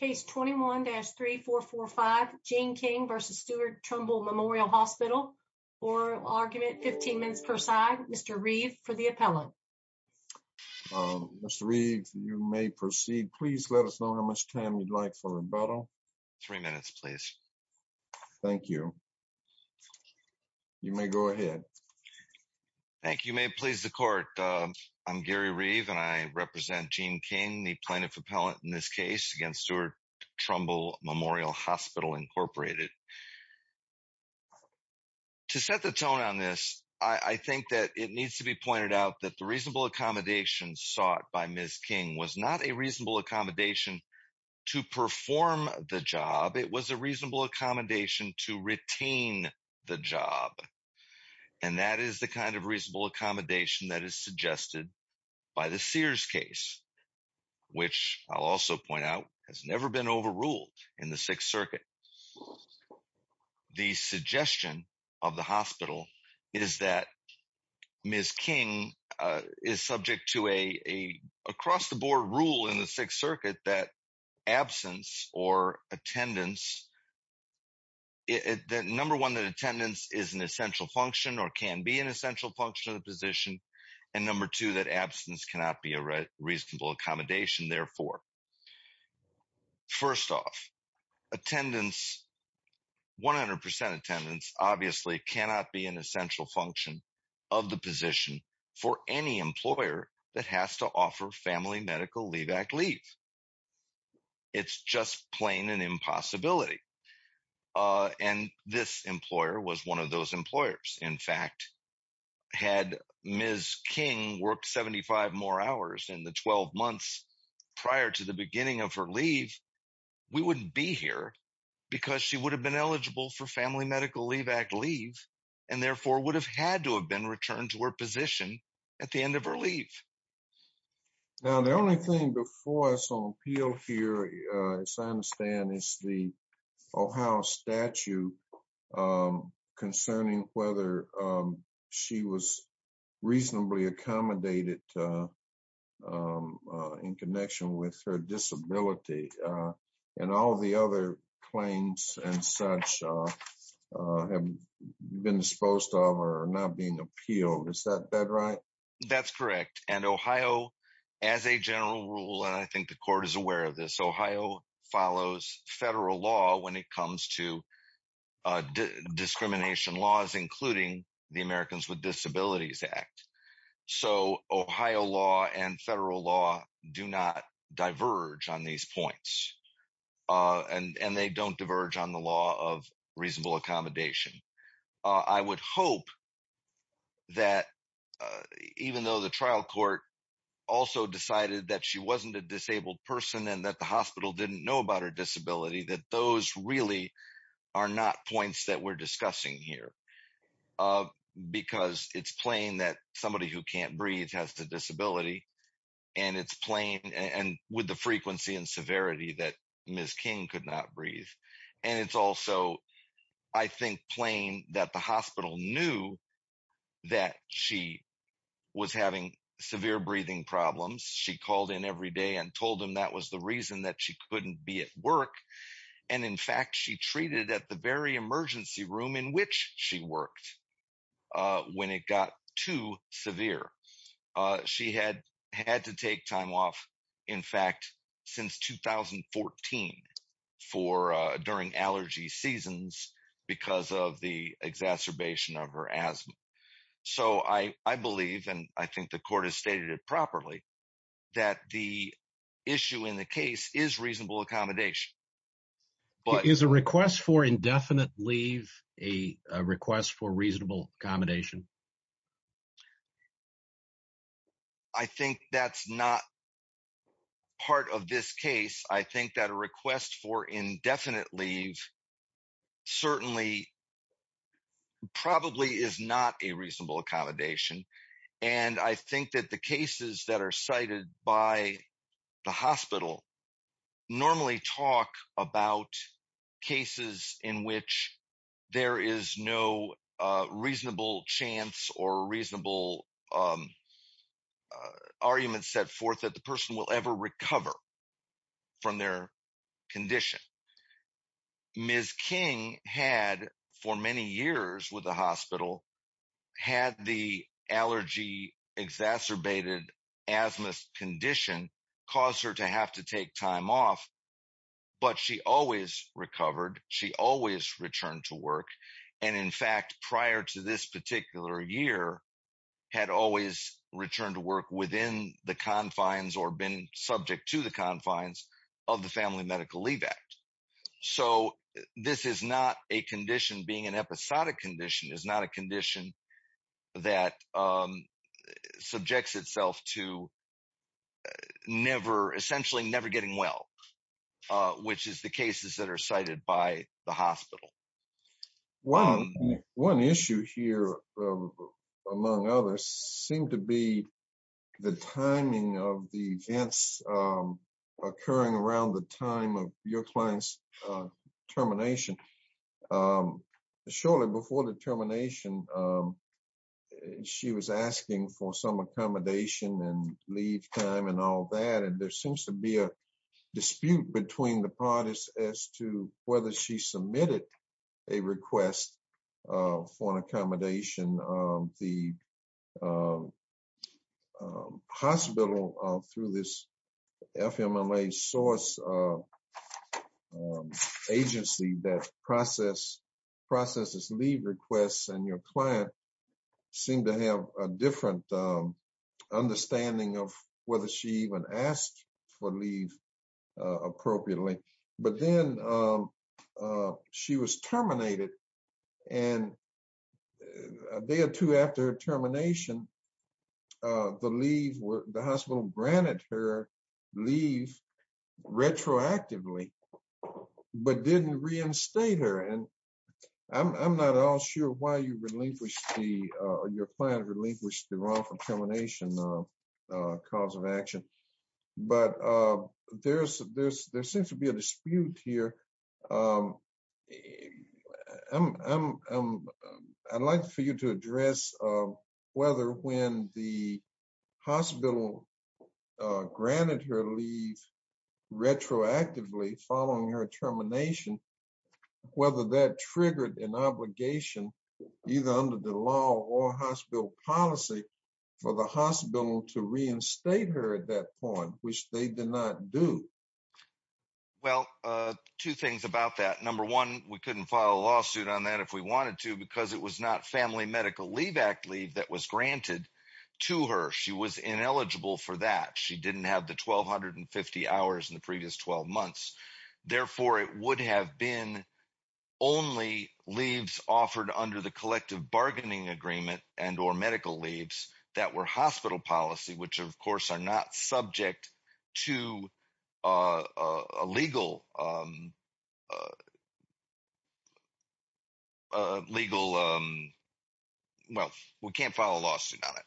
Case 21-3445, Jeanne King v. Steward Trumbull Memorial Hospital. Oral argument 15 minutes per side. Mr. Reeve for the appellant. Mr. Reeve, you may proceed. Please let us know how much time you'd like for rebuttal. Three minutes, please. Thank you. You may go ahead. Thank you. You may please the court. I'm Gary Reeve and I Trumbull Memorial Hospital Incorporated. To set the tone on this, I think that it needs to be pointed out that the reasonable accommodation sought by Ms. King was not a reasonable accommodation to perform the job. It was a reasonable accommodation to retain the job. And that is the kind of reasonable accommodation that is suggested by the Sears case, which I'll also point out has never been overruled in the Sixth Circuit. The suggestion of the hospital is that Ms. King is subject to a across-the-board rule in the Sixth Circuit that absence or attendance, number one, that attendance is an essential function of the position, and number two, that absence cannot be a reasonable accommodation. Therefore, first off, attendance, 100 percent attendance, obviously cannot be an essential function of the position for any employer that has to offer family medical leave act leave. It's just plain an impossibility. And this employer was one of those employers. In fact, had Ms. King worked 75 more hours in the 12 months prior to the beginning of her leave, we wouldn't be here because she would have been eligible for family medical leave act leave and therefore would have had to have been returned to her position at the end of her leave. Now, the only thing before us on appeal here, as I understand, is the Ohio statute concerning whether she was reasonably accommodated in connection with her disability and all the other claims and such have been disposed of or not being appealed. Is that right? That's correct. And Ohio, as a general rule, and I think the court is aware of this, Ohio follows federal law when it comes to discrimination laws, including the Americans with Disabilities Act. So Ohio law and federal law do not diverge on these points. And they don't diverge on the law of reasonable accommodation. I would hope that even though the trial court also decided that she wasn't a disabled person and that the hospital didn't know about her disability, that those really are not points that we're discussing here. Because it's plain that somebody who can't breathe has a disability and it's plain and with the frequency and severity that Ms. King could not breathe. And it's also, I think, plain that the hospital knew that she was having severe breathing problems. She called in every day and told him that was the reason that she couldn't be at work. And in fact, she treated at the very emergency room in which she worked when it got too severe. She had to take time off, in fact, since 2014 during allergy seasons because of the exacerbation of her asthma. So I believe, and I think the court has stated it properly, that the issue in the case is reasonable accommodation. Is a request for indefinite leave a request for reasonable accommodation? I think that's not part of this case. I think that a request for indefinite leave certainly probably is not a reasonable accommodation. And I think that the cases that are cited by the hospital normally talk about cases in which there is no reasonable chance or reasonable argument set forth that the person will ever recover from their condition. Ms. King had, for many years with the hospital, had the allergy exacerbated asthma condition cause her to have to take time off. But she always recovered. She always returned to work. And in fact, prior to this particular year, had always returned to work within the So this is not a condition being an episodic condition is not a condition that subjects itself to never, essentially never getting well, which is the cases that are cited by the hospital. One issue here, among others, seem to be the timing of the events occurring around the time your client's termination. Shortly before the termination, she was asking for some accommodation and leave time and all that. And there seems to be a dispute between the parties as to whether she submitted a request for an accommodation of the hospital through this source agency that processes leave requests. And your client seemed to have a different understanding of whether she even asked for leave appropriately. But then she was terminated. And a day or two after termination, the hospital granted her leave retroactively, but didn't reinstate her. And I'm not all sure why your client relinquished the wrongful termination cause of action. But there seems to be a dispute here. I'm, I'd like for you to address whether when the hospital granted her leave, retroactively following her termination, whether that triggered an obligation, either under the law or hospital policy for the hospital to reinstate her at that point, which they did not do. Well, two things about that. Number one, we couldn't file a lawsuit on that if we wanted to, because it was not Family Medical Leave Act leave that was granted to her. She was ineligible for that. She didn't have the 1,250 hours in the previous 12 months. Therefore, it would have been only leaves offered under the collective bargaining agreement and or medical leaves that were hospital policy, which of course are not subject to a legal, legal, well, we can't file a lawsuit on it.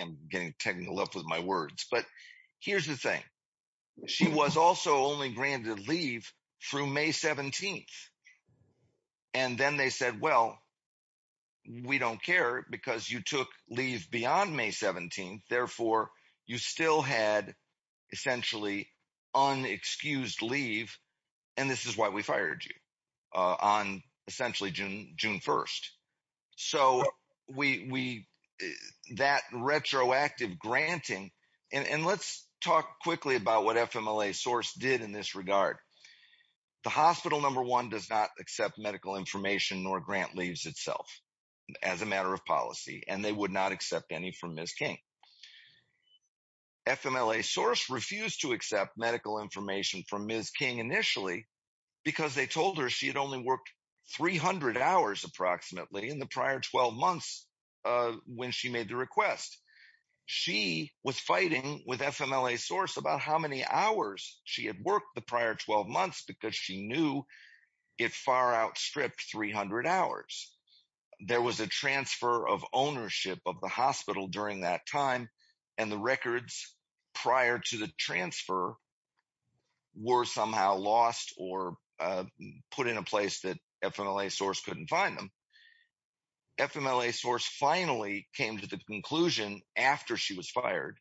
I'm getting technical with my words, but here's the thing. She was also only granted leave through May 17th. And then they said, well, we don't care because you took leave beyond May 17th. Therefore, you still had essentially unexcused leave. And this is why we fired you on essentially June, June 1st. So we, that retroactive granting, and let's talk quickly about what FMLA source did in this regard. The hospital number one does not accept medical information nor grant leaves itself as a matter of policy, and they would not accept any from Ms. King. FMLA source refused to accept medical information from Ms. King initially, because they told her she had only worked 300 hours approximately in the prior 12 months when she made the request. She was fighting with FMLA source about how many hours she had worked prior 12 months, because she knew it far outstripped 300 hours. There was a transfer of ownership of the hospital during that time. And the records prior to the transfer were somehow lost or put in a place that FMLA source couldn't find them. FMLA source finally came to the conclusion after she was fired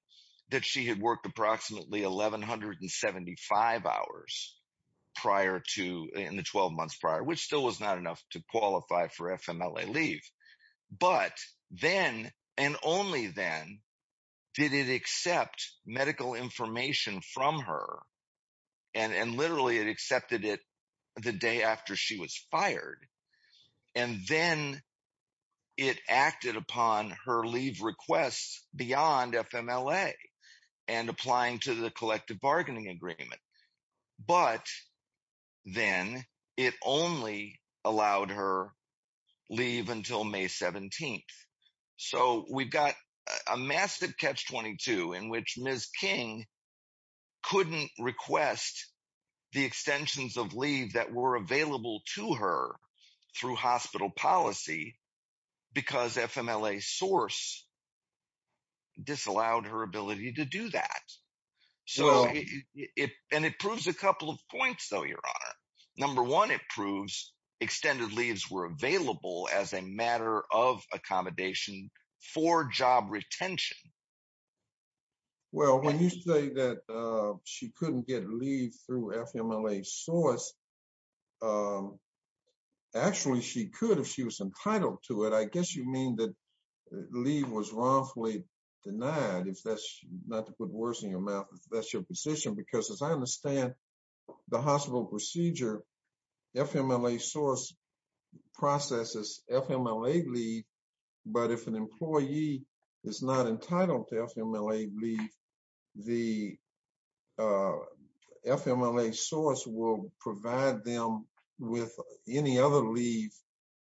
that she had worked approximately 1175 hours prior to in the 12 months prior, which still was not enough to qualify for FMLA leave. But then, and only then, did it accept medical information from her. And literally, it accepted it the day after she was fired. And then it acted upon her leave requests beyond FMLA and applying to the collective bargaining agreement. But then, it only allowed her leave until May 17. So we've got a massive catch 22 in which Ms. King couldn't request the extensions of leave that were available to her through hospital policy, because FMLA source disallowed her ability to do that. So it and it proves a couple of points, though, Your Honor. Number one, it proves extended leaves were available as a matter of accommodation for job retention. Well, when you say that she couldn't get leave through FMLA source. Actually, she could if she was entitled to it. I guess you mean that leave was wrongfully denied. If that's not to put words in your mouth, if that's your position, because as I understand, the hospital procedure, FMLA source processes FMLA leave. But if an employee is not entitled to FMLA leave, the FMLA source will provide them with any other leave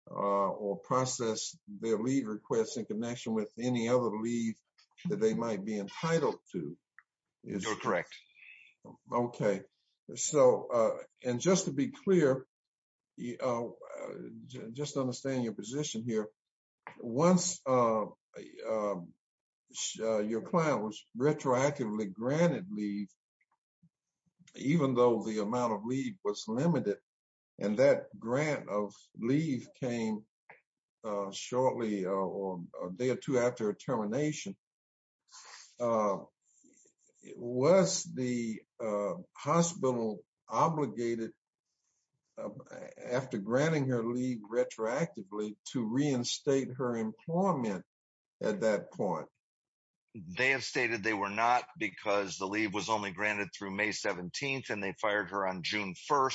or process their leave requests in connection with any other leave that they might be entitled to. You're correct. Okay. So, and just to be clear, just understand your position here. Once your client was retroactively granted leave, even though the amount of leave was limited, and that grant of leave came shortly or day or two after termination, was the hospital obligated after granting her leave retroactively to reinstate her employment at that point? They have stated they were not because the leave was only granted through May 17. And they fired her on June 1.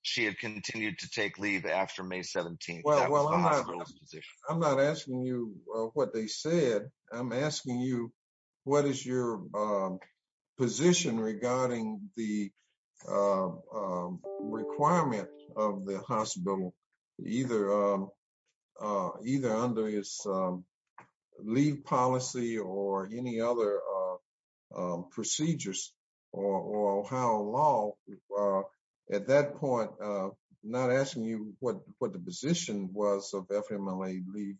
She had continued to take leave after May 17. I'm not asking you what they said. I'm asking you, what is your position regarding the requirement of the hospital, either under his leave policy or any other procedures, or how long at that point, not asking you what the position was of FMLA leave,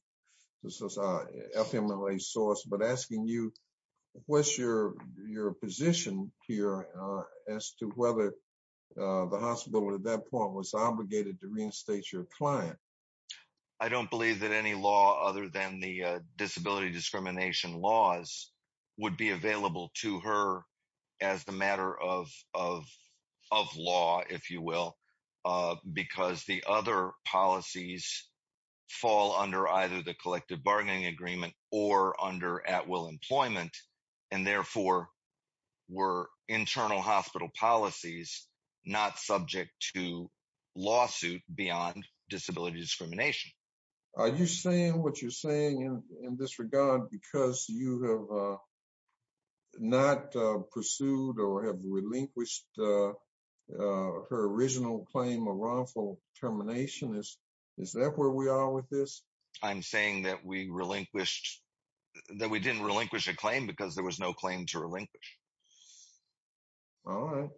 FMLA source, but asking you, what's your position here as to whether the hospital at that point was obligated to reinstate your client? I don't believe that any law other than the disability discrimination laws would be available to her as a matter of law, if you will, because the other policies fall under either the collective bargaining agreement or under at-will employment, and therefore, were internal hospital policies not subject to lawsuit beyond disability discrimination. Are you saying what you're saying in this regard because you have not pursued or have relinquished her original claim of wrongful termination? Is that where we are with this? I'm saying that we relinquished, that we didn't relinquish a claim because there was no claim to relinquish. All right.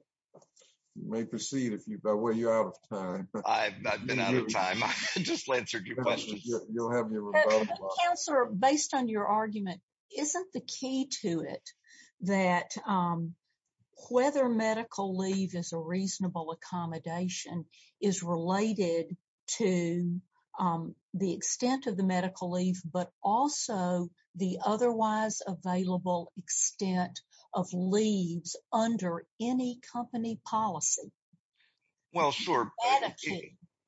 You may proceed if you, by the way, you're out of time. I've been out of time. I just answered your question. You'll have your rebuttal. Based on your argument, isn't the key to it that whether medical leave is a reasonable accommodation is related to the extent of the medical leave, but also the otherwise available extent of leaves under any company policy? Well, sure. To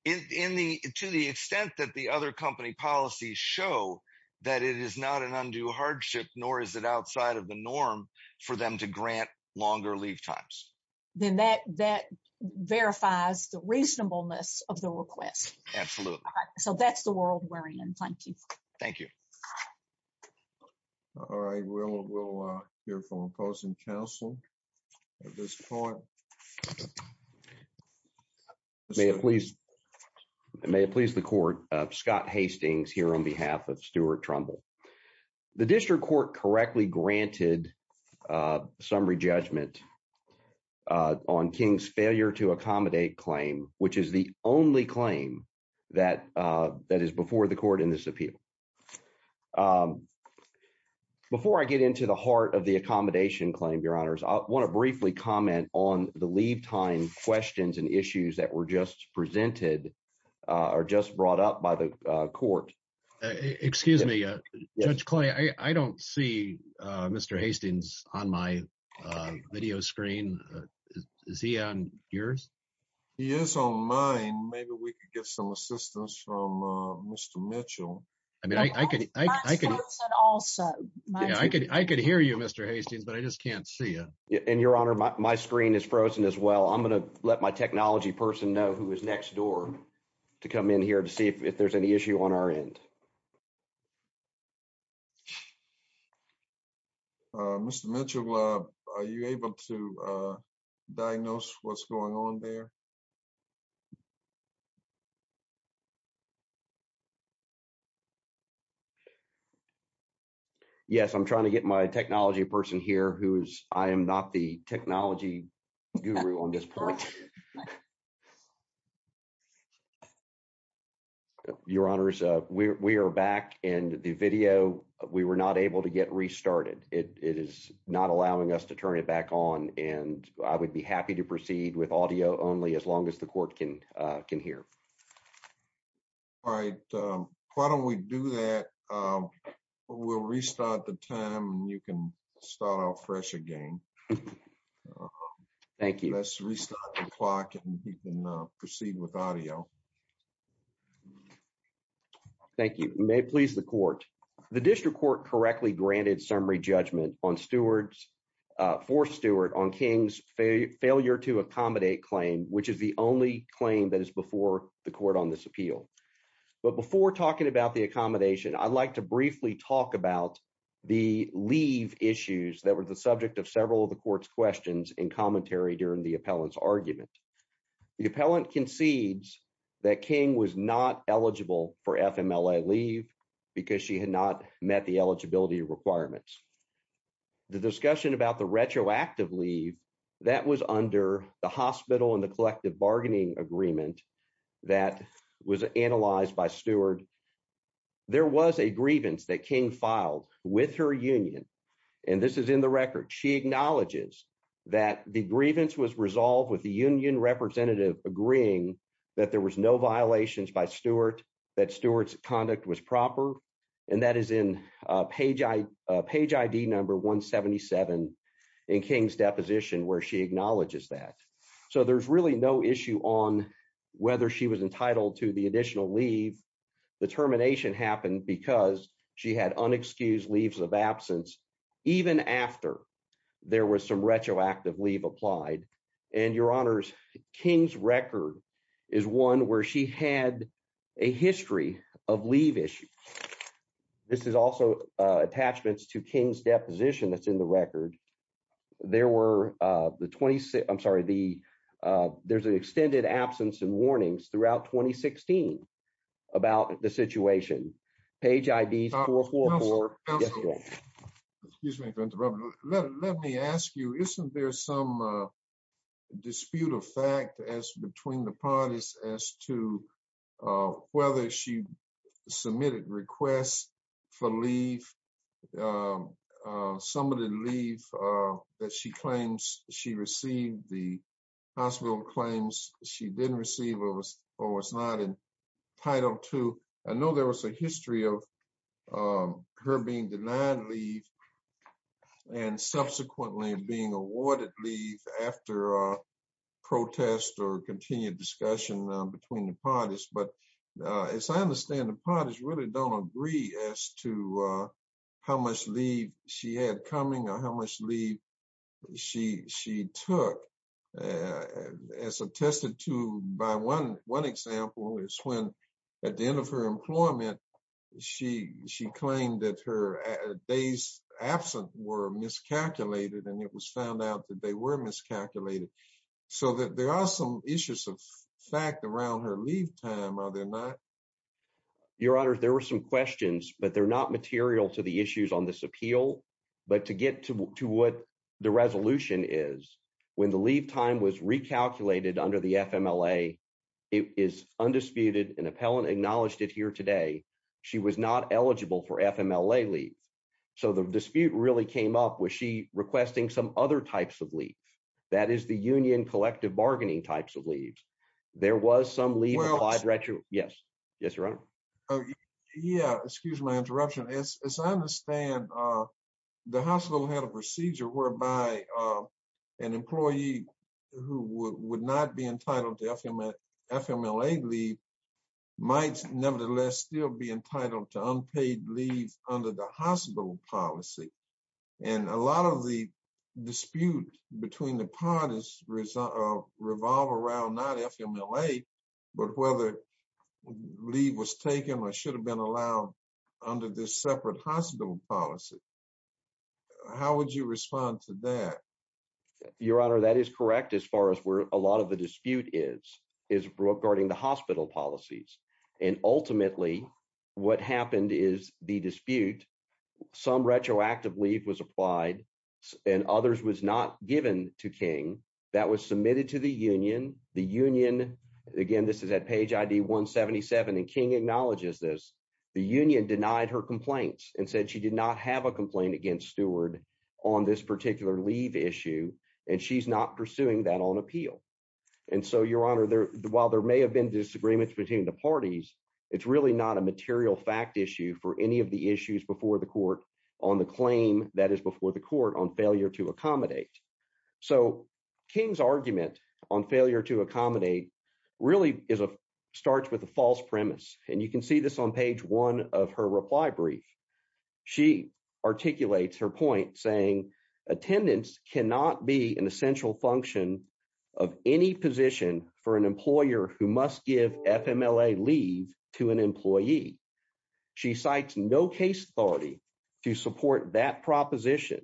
the extent that the other company policies show that it is not an undue hardship, nor is it outside of the norm for them to grant longer leave times. Then that verifies the reasonableness of the request. Absolutely. So that's the world we're in. Thank you. Thank you. All right. We'll hear from opposing counsel at this point. May it please the court. Scott Hastings here on behalf of Stuart Trumbull. The district court correctly granted summary judgment on King's failure to accommodate claim, which is the only claim that is before the court in this appeal. Before I get into the heart of the accommodation claim, your honors, I want to briefly comment on the leave time questions and issues that were just presented or just brought up by the court. Excuse me, Judge Clay, I don't see Mr. Hastings on my video screen. Is he on yours? He is on mine. Maybe we could get some assistance from Mr. Mitchell. I mean, I could hear you, Mr. Hastings, but I just can't see you. And your honor, my screen is frozen as well. I'm going to let my technology person know who is next door to come in here to see if there's any issue on our end. Mr. Mitchell, are you able to diagnose what's going on there? Yes, I'm trying to get my technology person here who's I am not the technology guru on this point. Thank you, your honors. We are back in the video. We were not able to get restarted. It is not allowing us to turn it back on. And I would be happy to proceed with audio only as long as the court can can hear. All right. Why don't we do that? We'll restart the time and you can start fresh again. Thank you. Let's restart the clock and you can proceed with audio. Thank you. May it please the court. The district court correctly granted summary judgment on stewards for Stewart on King's failure to accommodate claim, which is the only claim that is before the court on this appeal. But before talking about the accommodation, I'd like briefly talk about the leave issues that were the subject of several of the court's questions and commentary during the appellant's argument. The appellant concedes that King was not eligible for FMLA leave because she had not met the eligibility requirements. The discussion about the retroactive leave that was under the hospital and the collective bargaining agreement that was that King filed with her union. And this is in the record. She acknowledges that the grievance was resolved with the union representative agreeing that there was no violations by Stewart, that Stewart's conduct was proper. And that is in page page ID number 177 in King's deposition, where she acknowledges that. So there's really no issue on whether she was entitled to the she had unexcused leaves of absence even after there was some retroactive leave applied. And your honors, King's record is one where she had a history of leave issue. This is also attachments to King's deposition that's in the record. There were the 26 I'm sorry, the there's an extended absence and warnings throughout 2016 about the situation. Page IDs. Let me ask you, isn't there some dispute of fact as between the parties as to whether she submitted requests for leave? Some of the leave that she claims she received the hospital claims she didn't receive was or was not in Title Two. I know there was a history of her being denied leave. And subsequently being awarded leave after protest or continued discussion between the parties. But as I understand the parties really don't agree as to how much leave she had coming or how much leave she she took. As attested to by one one example is when at the end of her employment, she she claimed that her days absent were miscalculated, and it was found out that they were miscalculated. So that there are some issues of fact around her leave time, are there not? Your honor, there were some questions, but they're not material to the issues on this appeal. But to get to what the resolution is, when the leave time was recalculated under the FMLA, it is undisputed and appellant acknowledged it here today. She was not eligible for FMLA leave. So the dispute really came up with she requesting some other types of leave. That is the union collective bargaining types of leaves. There was some leave applied retro. Yes. Yes, your honor. Yeah, excuse my interruption. As I understand, the hospital had a procedure whereby an employee who would not be entitled to FMLA leave might nevertheless still be entitled to unpaid leave under the hospital policy. And a lot of the dispute between the parties revolve around not FMLA, but whether leave was taken or should have been allowed under this separate hospital policy. How would you respond to that? Your honor, that is correct, as far as where a lot of the dispute is, is regarding the hospital policies. And ultimately, what happened is the dispute, some retroactive leave was applied, and others was not given to was submitted to the union, the union, again, this is at page ID 177. And King acknowledges this, the union denied her complaints and said she did not have a complaint against steward on this particular leave issue. And she's not pursuing that on appeal. And so your honor there, while there may have been disagreements between the parties, it's really not a material fact issue for any of the issues before the court on the claim that is before the court on failure to King's argument on failure to accommodate really is a starts with a false premise. And you can see this on page one of her reply brief. She articulates her point saying, attendance cannot be an essential function of any position for an employer who must give FMLA leave to an employee. She cites no case authority to support that proposition.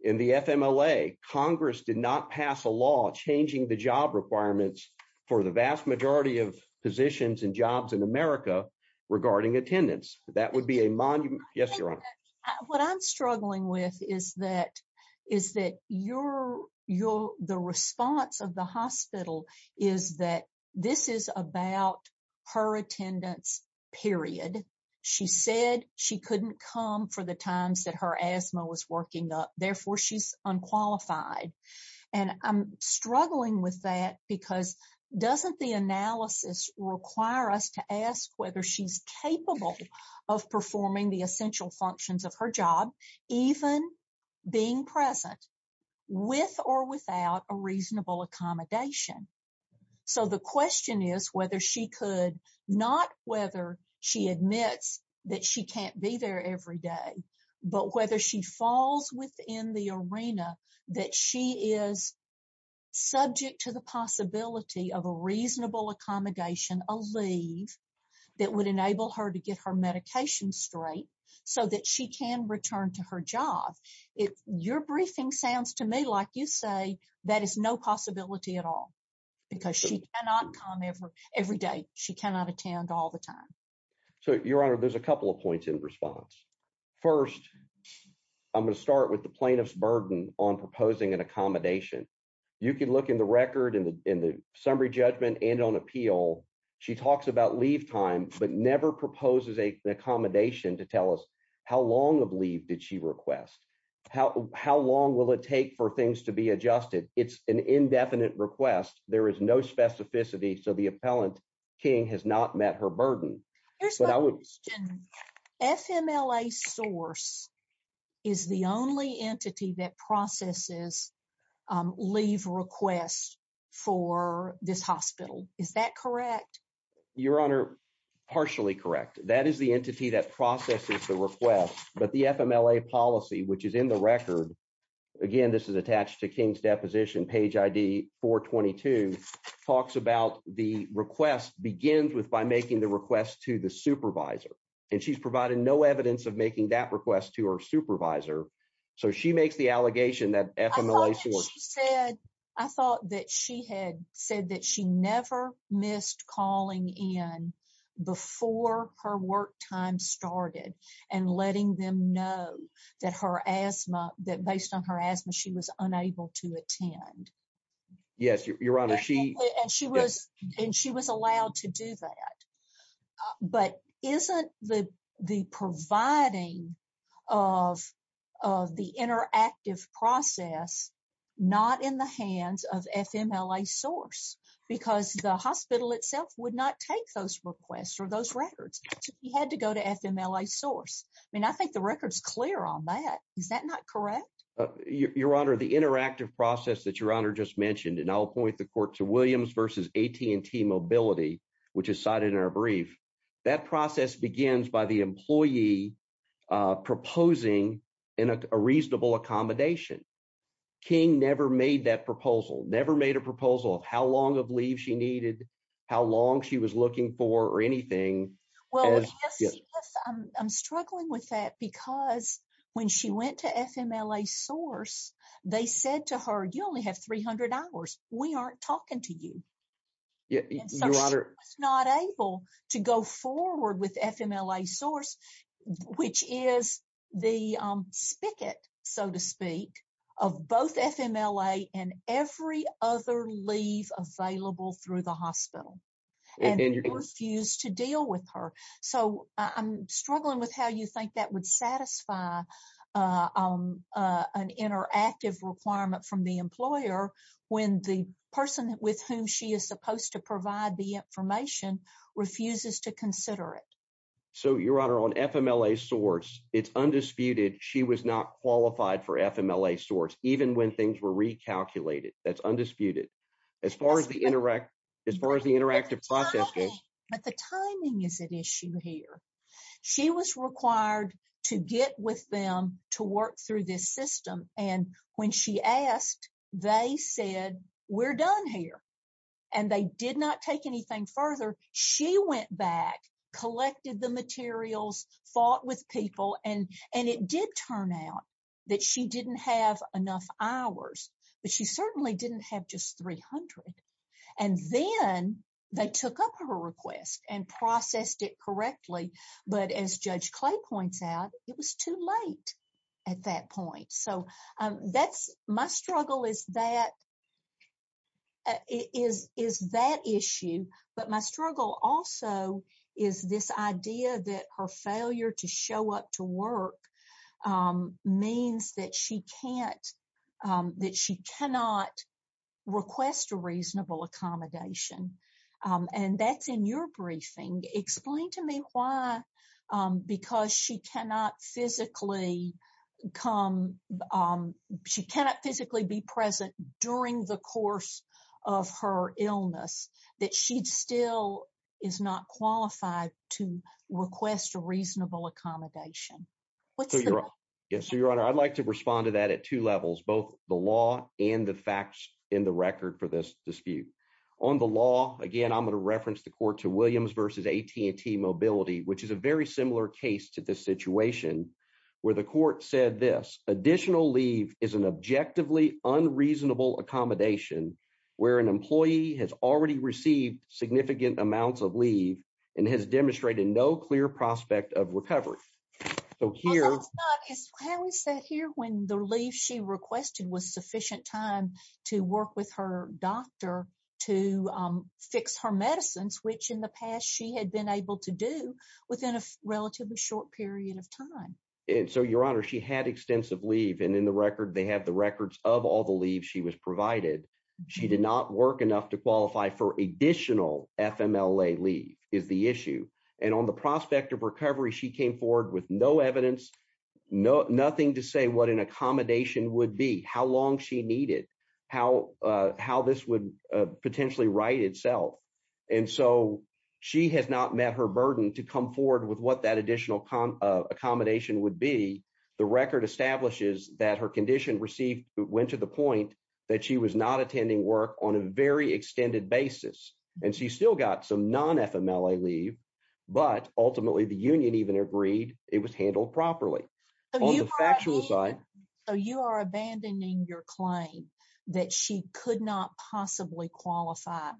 In the FMLA, Congress did not pass a law changing the job requirements for the vast majority of positions and jobs in America regarding attendance, that would be a monument. Yes, your honor. What I'm struggling with is that, is that your your the response of the hospital is that this is about her attendance, period. She said she couldn't come for the times that her asthma was working up, therefore, she's unqualified. And I'm struggling with that, because doesn't the analysis require us to ask whether she's capable of performing the essential functions of her job, even being present with or without a reasonable accommodation. So the question is whether she could not whether she admits that she can't be there every day, but whether she falls within the arena that she is subject to the possibility of a reasonable accommodation, a leave that would return to her job. If your briefing sounds to me like you say, that is no possibility at all, because she cannot come every, every day, she cannot attend all the time. So your honor, there's a couple of points in response. First, I'm going to start with the plaintiff's burden on proposing an accommodation. You can look in the record and in the summary judgment and on appeal, she talks about leave time, but never proposes a accommodation to tell us how long of leave did she request? How long will it take for things to be adjusted? It's an indefinite request, there is no specificity, so the appellant king has not met her burden. FMLA source is the only entity that processes leave requests for this hospital, is that correct? Your honor, partially correct. That is the entity that processes the request, but the FMLA policy, which is in the record, again this is attached to King's deposition, page ID 422, talks about the request begins with by making the request to the supervisor, and she's provided no evidence of making that request to her supervisor, so she makes the allegation that FMLA said. I thought that she had said that she never missed calling in before her work time started and letting them know that her asthma, that based on her asthma, she was unable to attend. Yes, your honor, she and she was and she was allowed to do that, but isn't the the providing of of the interactive process not in the hands of FMLA source, because the hospital itself would not take those requests or those records. He had to go to FMLA source. I mean, I think the record's clear on that, is that not correct? Your honor, the interactive process that your honor just mentioned, and I'll point the court to Williams versus AT&T Mobility, which is cited in our brief, that process begins by the employee proposing in a reasonable accommodation. King never made that proposal, never made a proposal of how long of leave she needed, how long she was looking for, or anything. Well, I'm struggling with that, because when she went to FMLA source, they said to her, you only have 300 hours, we aren't talking to you. She was not able to go forward with FMLA source, which is the spigot, so to speak, of both FMLA and every other leave available through the hospital, and they refused to deal with her. So, I'm struggling with how you think that would satisfy an interactive requirement from the employer, when the person with whom she is supposed to provide the information refuses to consider it. So, your honor, on FMLA source, it's undisputed, she was not qualified for FMLA source, even when things were recalculated. That's undisputed. As far as the interactive process goes. But the timing is an issue here. She was required to get with them to work through this system, and when she asked, they said, we're done here. And they did not take anything further. She went back, collected the materials, fought with people, and it did turn out that she didn't have enough hours, but she certainly didn't have just 300. And then they took up her request and processed it correctly. But as Judge Clay points out, it was too late at that point. So, my struggle is that issue, but my struggle also is this idea that her failure to show up to work means that she cannot request a reasonable accommodation. And that's in your briefing. Explain to me why, because she cannot physically come, she cannot physically be present during the course of her illness, that she still is not qualified to request a reasonable accommodation. So, Your Honor, I'd like to respond to that at two levels, both the law and the facts in the record for this dispute. On the law, again, I'm going to reference the court to Williams v. AT&T Mobility, which is a very similar case to this situation, where the court said this, additional leave is an objectively unreasonable accommodation, where an employee has already received significant amounts of leave and has demonstrated no clear prospect of recovery. So, here... How is that here when the leave she requested was sufficient time to work with her doctor to fix her medicines, which in the past she had been able to do within a relatively short period of time? And so, Your Honor, she had extensive leave, and in the record, they have the records of all the leave she was provided. She did not work enough to qualify for additional FMLA leave is the issue. And on the prospect of recovery, she came forward with no evidence, nothing to say what an accommodation would be, how long she needed, how this would potentially right itself. And so, she has not met her burden to come forward with what that additional accommodation would be. The record establishes that her condition received went to the point that she was not attending work on a very extended basis. And she still got some non-FMLA leave, but ultimately, the union even agreed it was handled properly. On the factual side... So, you are abandoning your claim that she could not possibly qualify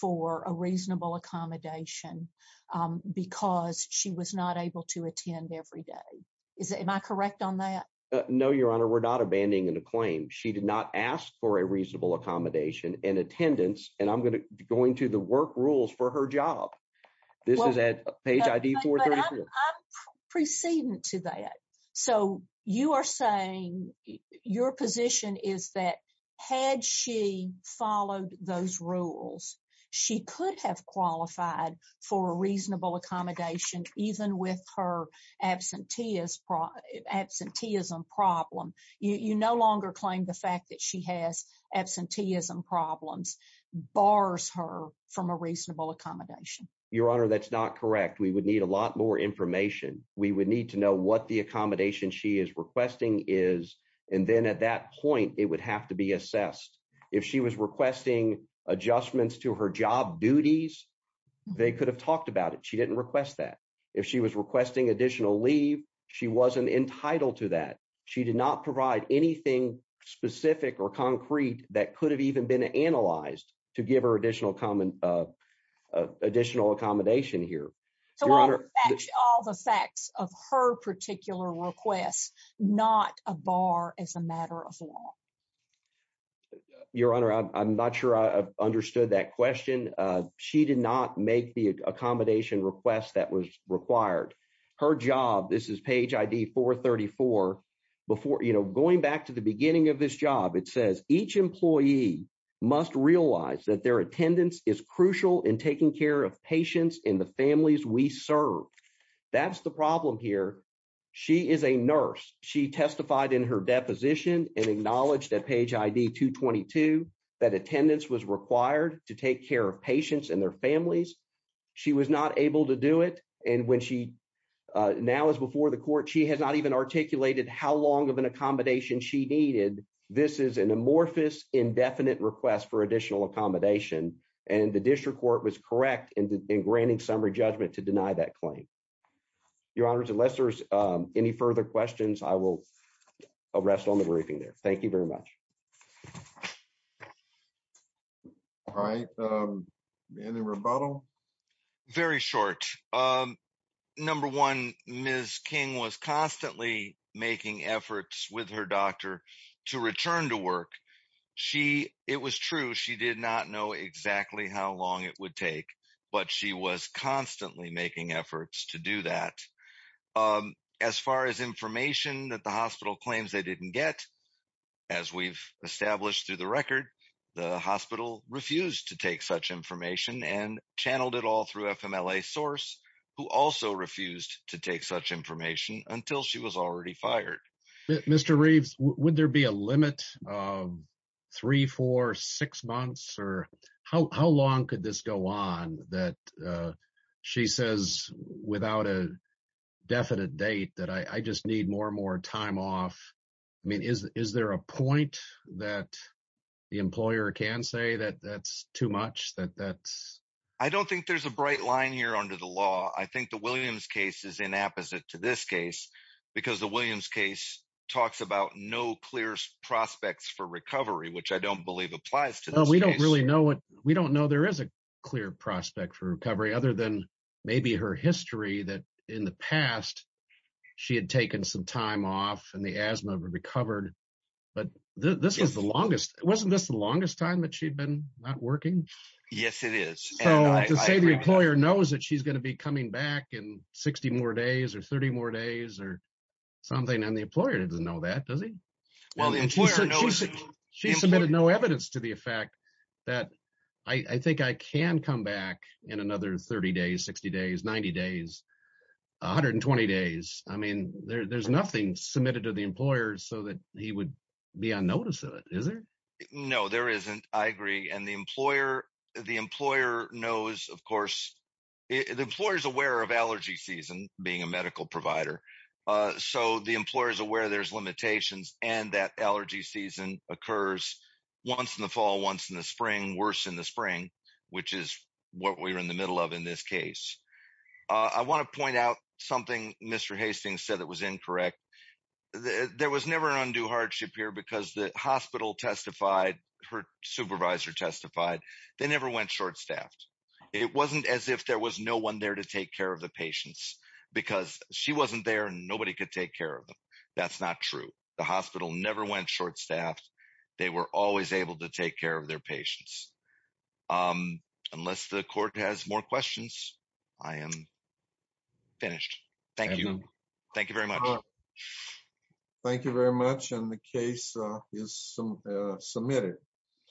for a reasonable accommodation because she was not able to attend every day. Am I correct on that? No, Your Honor. We're not abandoning the claim. She did not ask for a reasonable accommodation and attendance, and I'm going to go into the work rules for her job. This is at those rules. She could have qualified for a reasonable accommodation even with her absenteeism problem. You no longer claim the fact that she has absenteeism problems bars her from a reasonable accommodation. Your Honor, that's not correct. We would need a lot more information. We would need to know what the accommodation she is requesting is, and then at that point, it would have to be assessed. If she was requesting adjustments to her job duties, they could have talked about it. She didn't request that. If she was requesting additional leave, she wasn't entitled to that. She did not provide anything specific or concrete that could have even been analyzed to give her additional accommodation here. So all the facts of her particular request, not a bar as a matter of law. Your Honor, I'm not sure I understood that question. She did not make the accommodation request that was required. Her job, this is page ID 434, going back to the beginning of this job, it says each employee must realize that their attendance is crucial in taking care of patients and the families we serve. That's the problem here. She is a nurse. She testified in her deposition and acknowledged that page ID 222, that attendance was required to take care of patients and their families. She was not able to do it. And when she now is before the court, she has not even articulated how long of an accommodation she needed. This is an amorphous, indefinite request for additional accommodation. And the district court was correct in granting summary judgment to deny that claim. Your Honor, unless there's any further questions, I will rest on the briefing there. Thank you very much. All right. Any rebuttal? Very short. Number one, Ms. King was constantly making efforts with her doctor to return to work. She, it was true, she did not know exactly how long it would take, but she was constantly making efforts to do that. As far as information that the hospital claims they didn't get, as we've established through the record, the hospital refused to take such information and channeled it all through FMLA source, who also refused to take such information until she was already fired. Mr. Reeves, would there be a limit of three, four, six months? Or how long could this go on that she says without a definite date that I just need more and more time off? I mean, is there a point that the employer can say that that's too much? I don't think there's a bright line here under the law. I think the Williams case is inapposite to this case because the Williams case talks about no clear prospects for recovery, which I don't believe applies to this case. We don't really know what, we don't know there is a clear prospect for recovery other than maybe her history that in the past she had taken some time off and the asthma recovered. But this was the longest, wasn't this the longest time that she'd been not working? Yes, it is. So to say the employer knows that she's going to be coming back in 60 more days or 30 more days or something and the employer doesn't know that, does he? She submitted no evidence to the effect that I think I can come back in another 30 days, 60 days, 90 days, 120 days. I mean, there's nothing submitted to the employer so that he would be on notice of it, is there? No, there isn't. I agree. And the employer knows, of course, the employer is aware of allergy season being a medical provider. So the employer is aware there's limitations and that allergy season occurs once in the fall, once in the spring, worse in the spring, which is what we're in the middle of in this case. I want to point out something Mr. Hastings said that was incorrect. There was never an undue hardship here because the hospital testified, her supervisor testified, they never went short-staffed. It wasn't as if there was no one there to take care of the patients because she wasn't there and nobody could take care of them. That's not true. The hospital never went short-staffed. They were always able to take care of their patients. Unless the court has more questions, I am finished. Thank you. Thank you very much. Thank you very much and the case is submitted.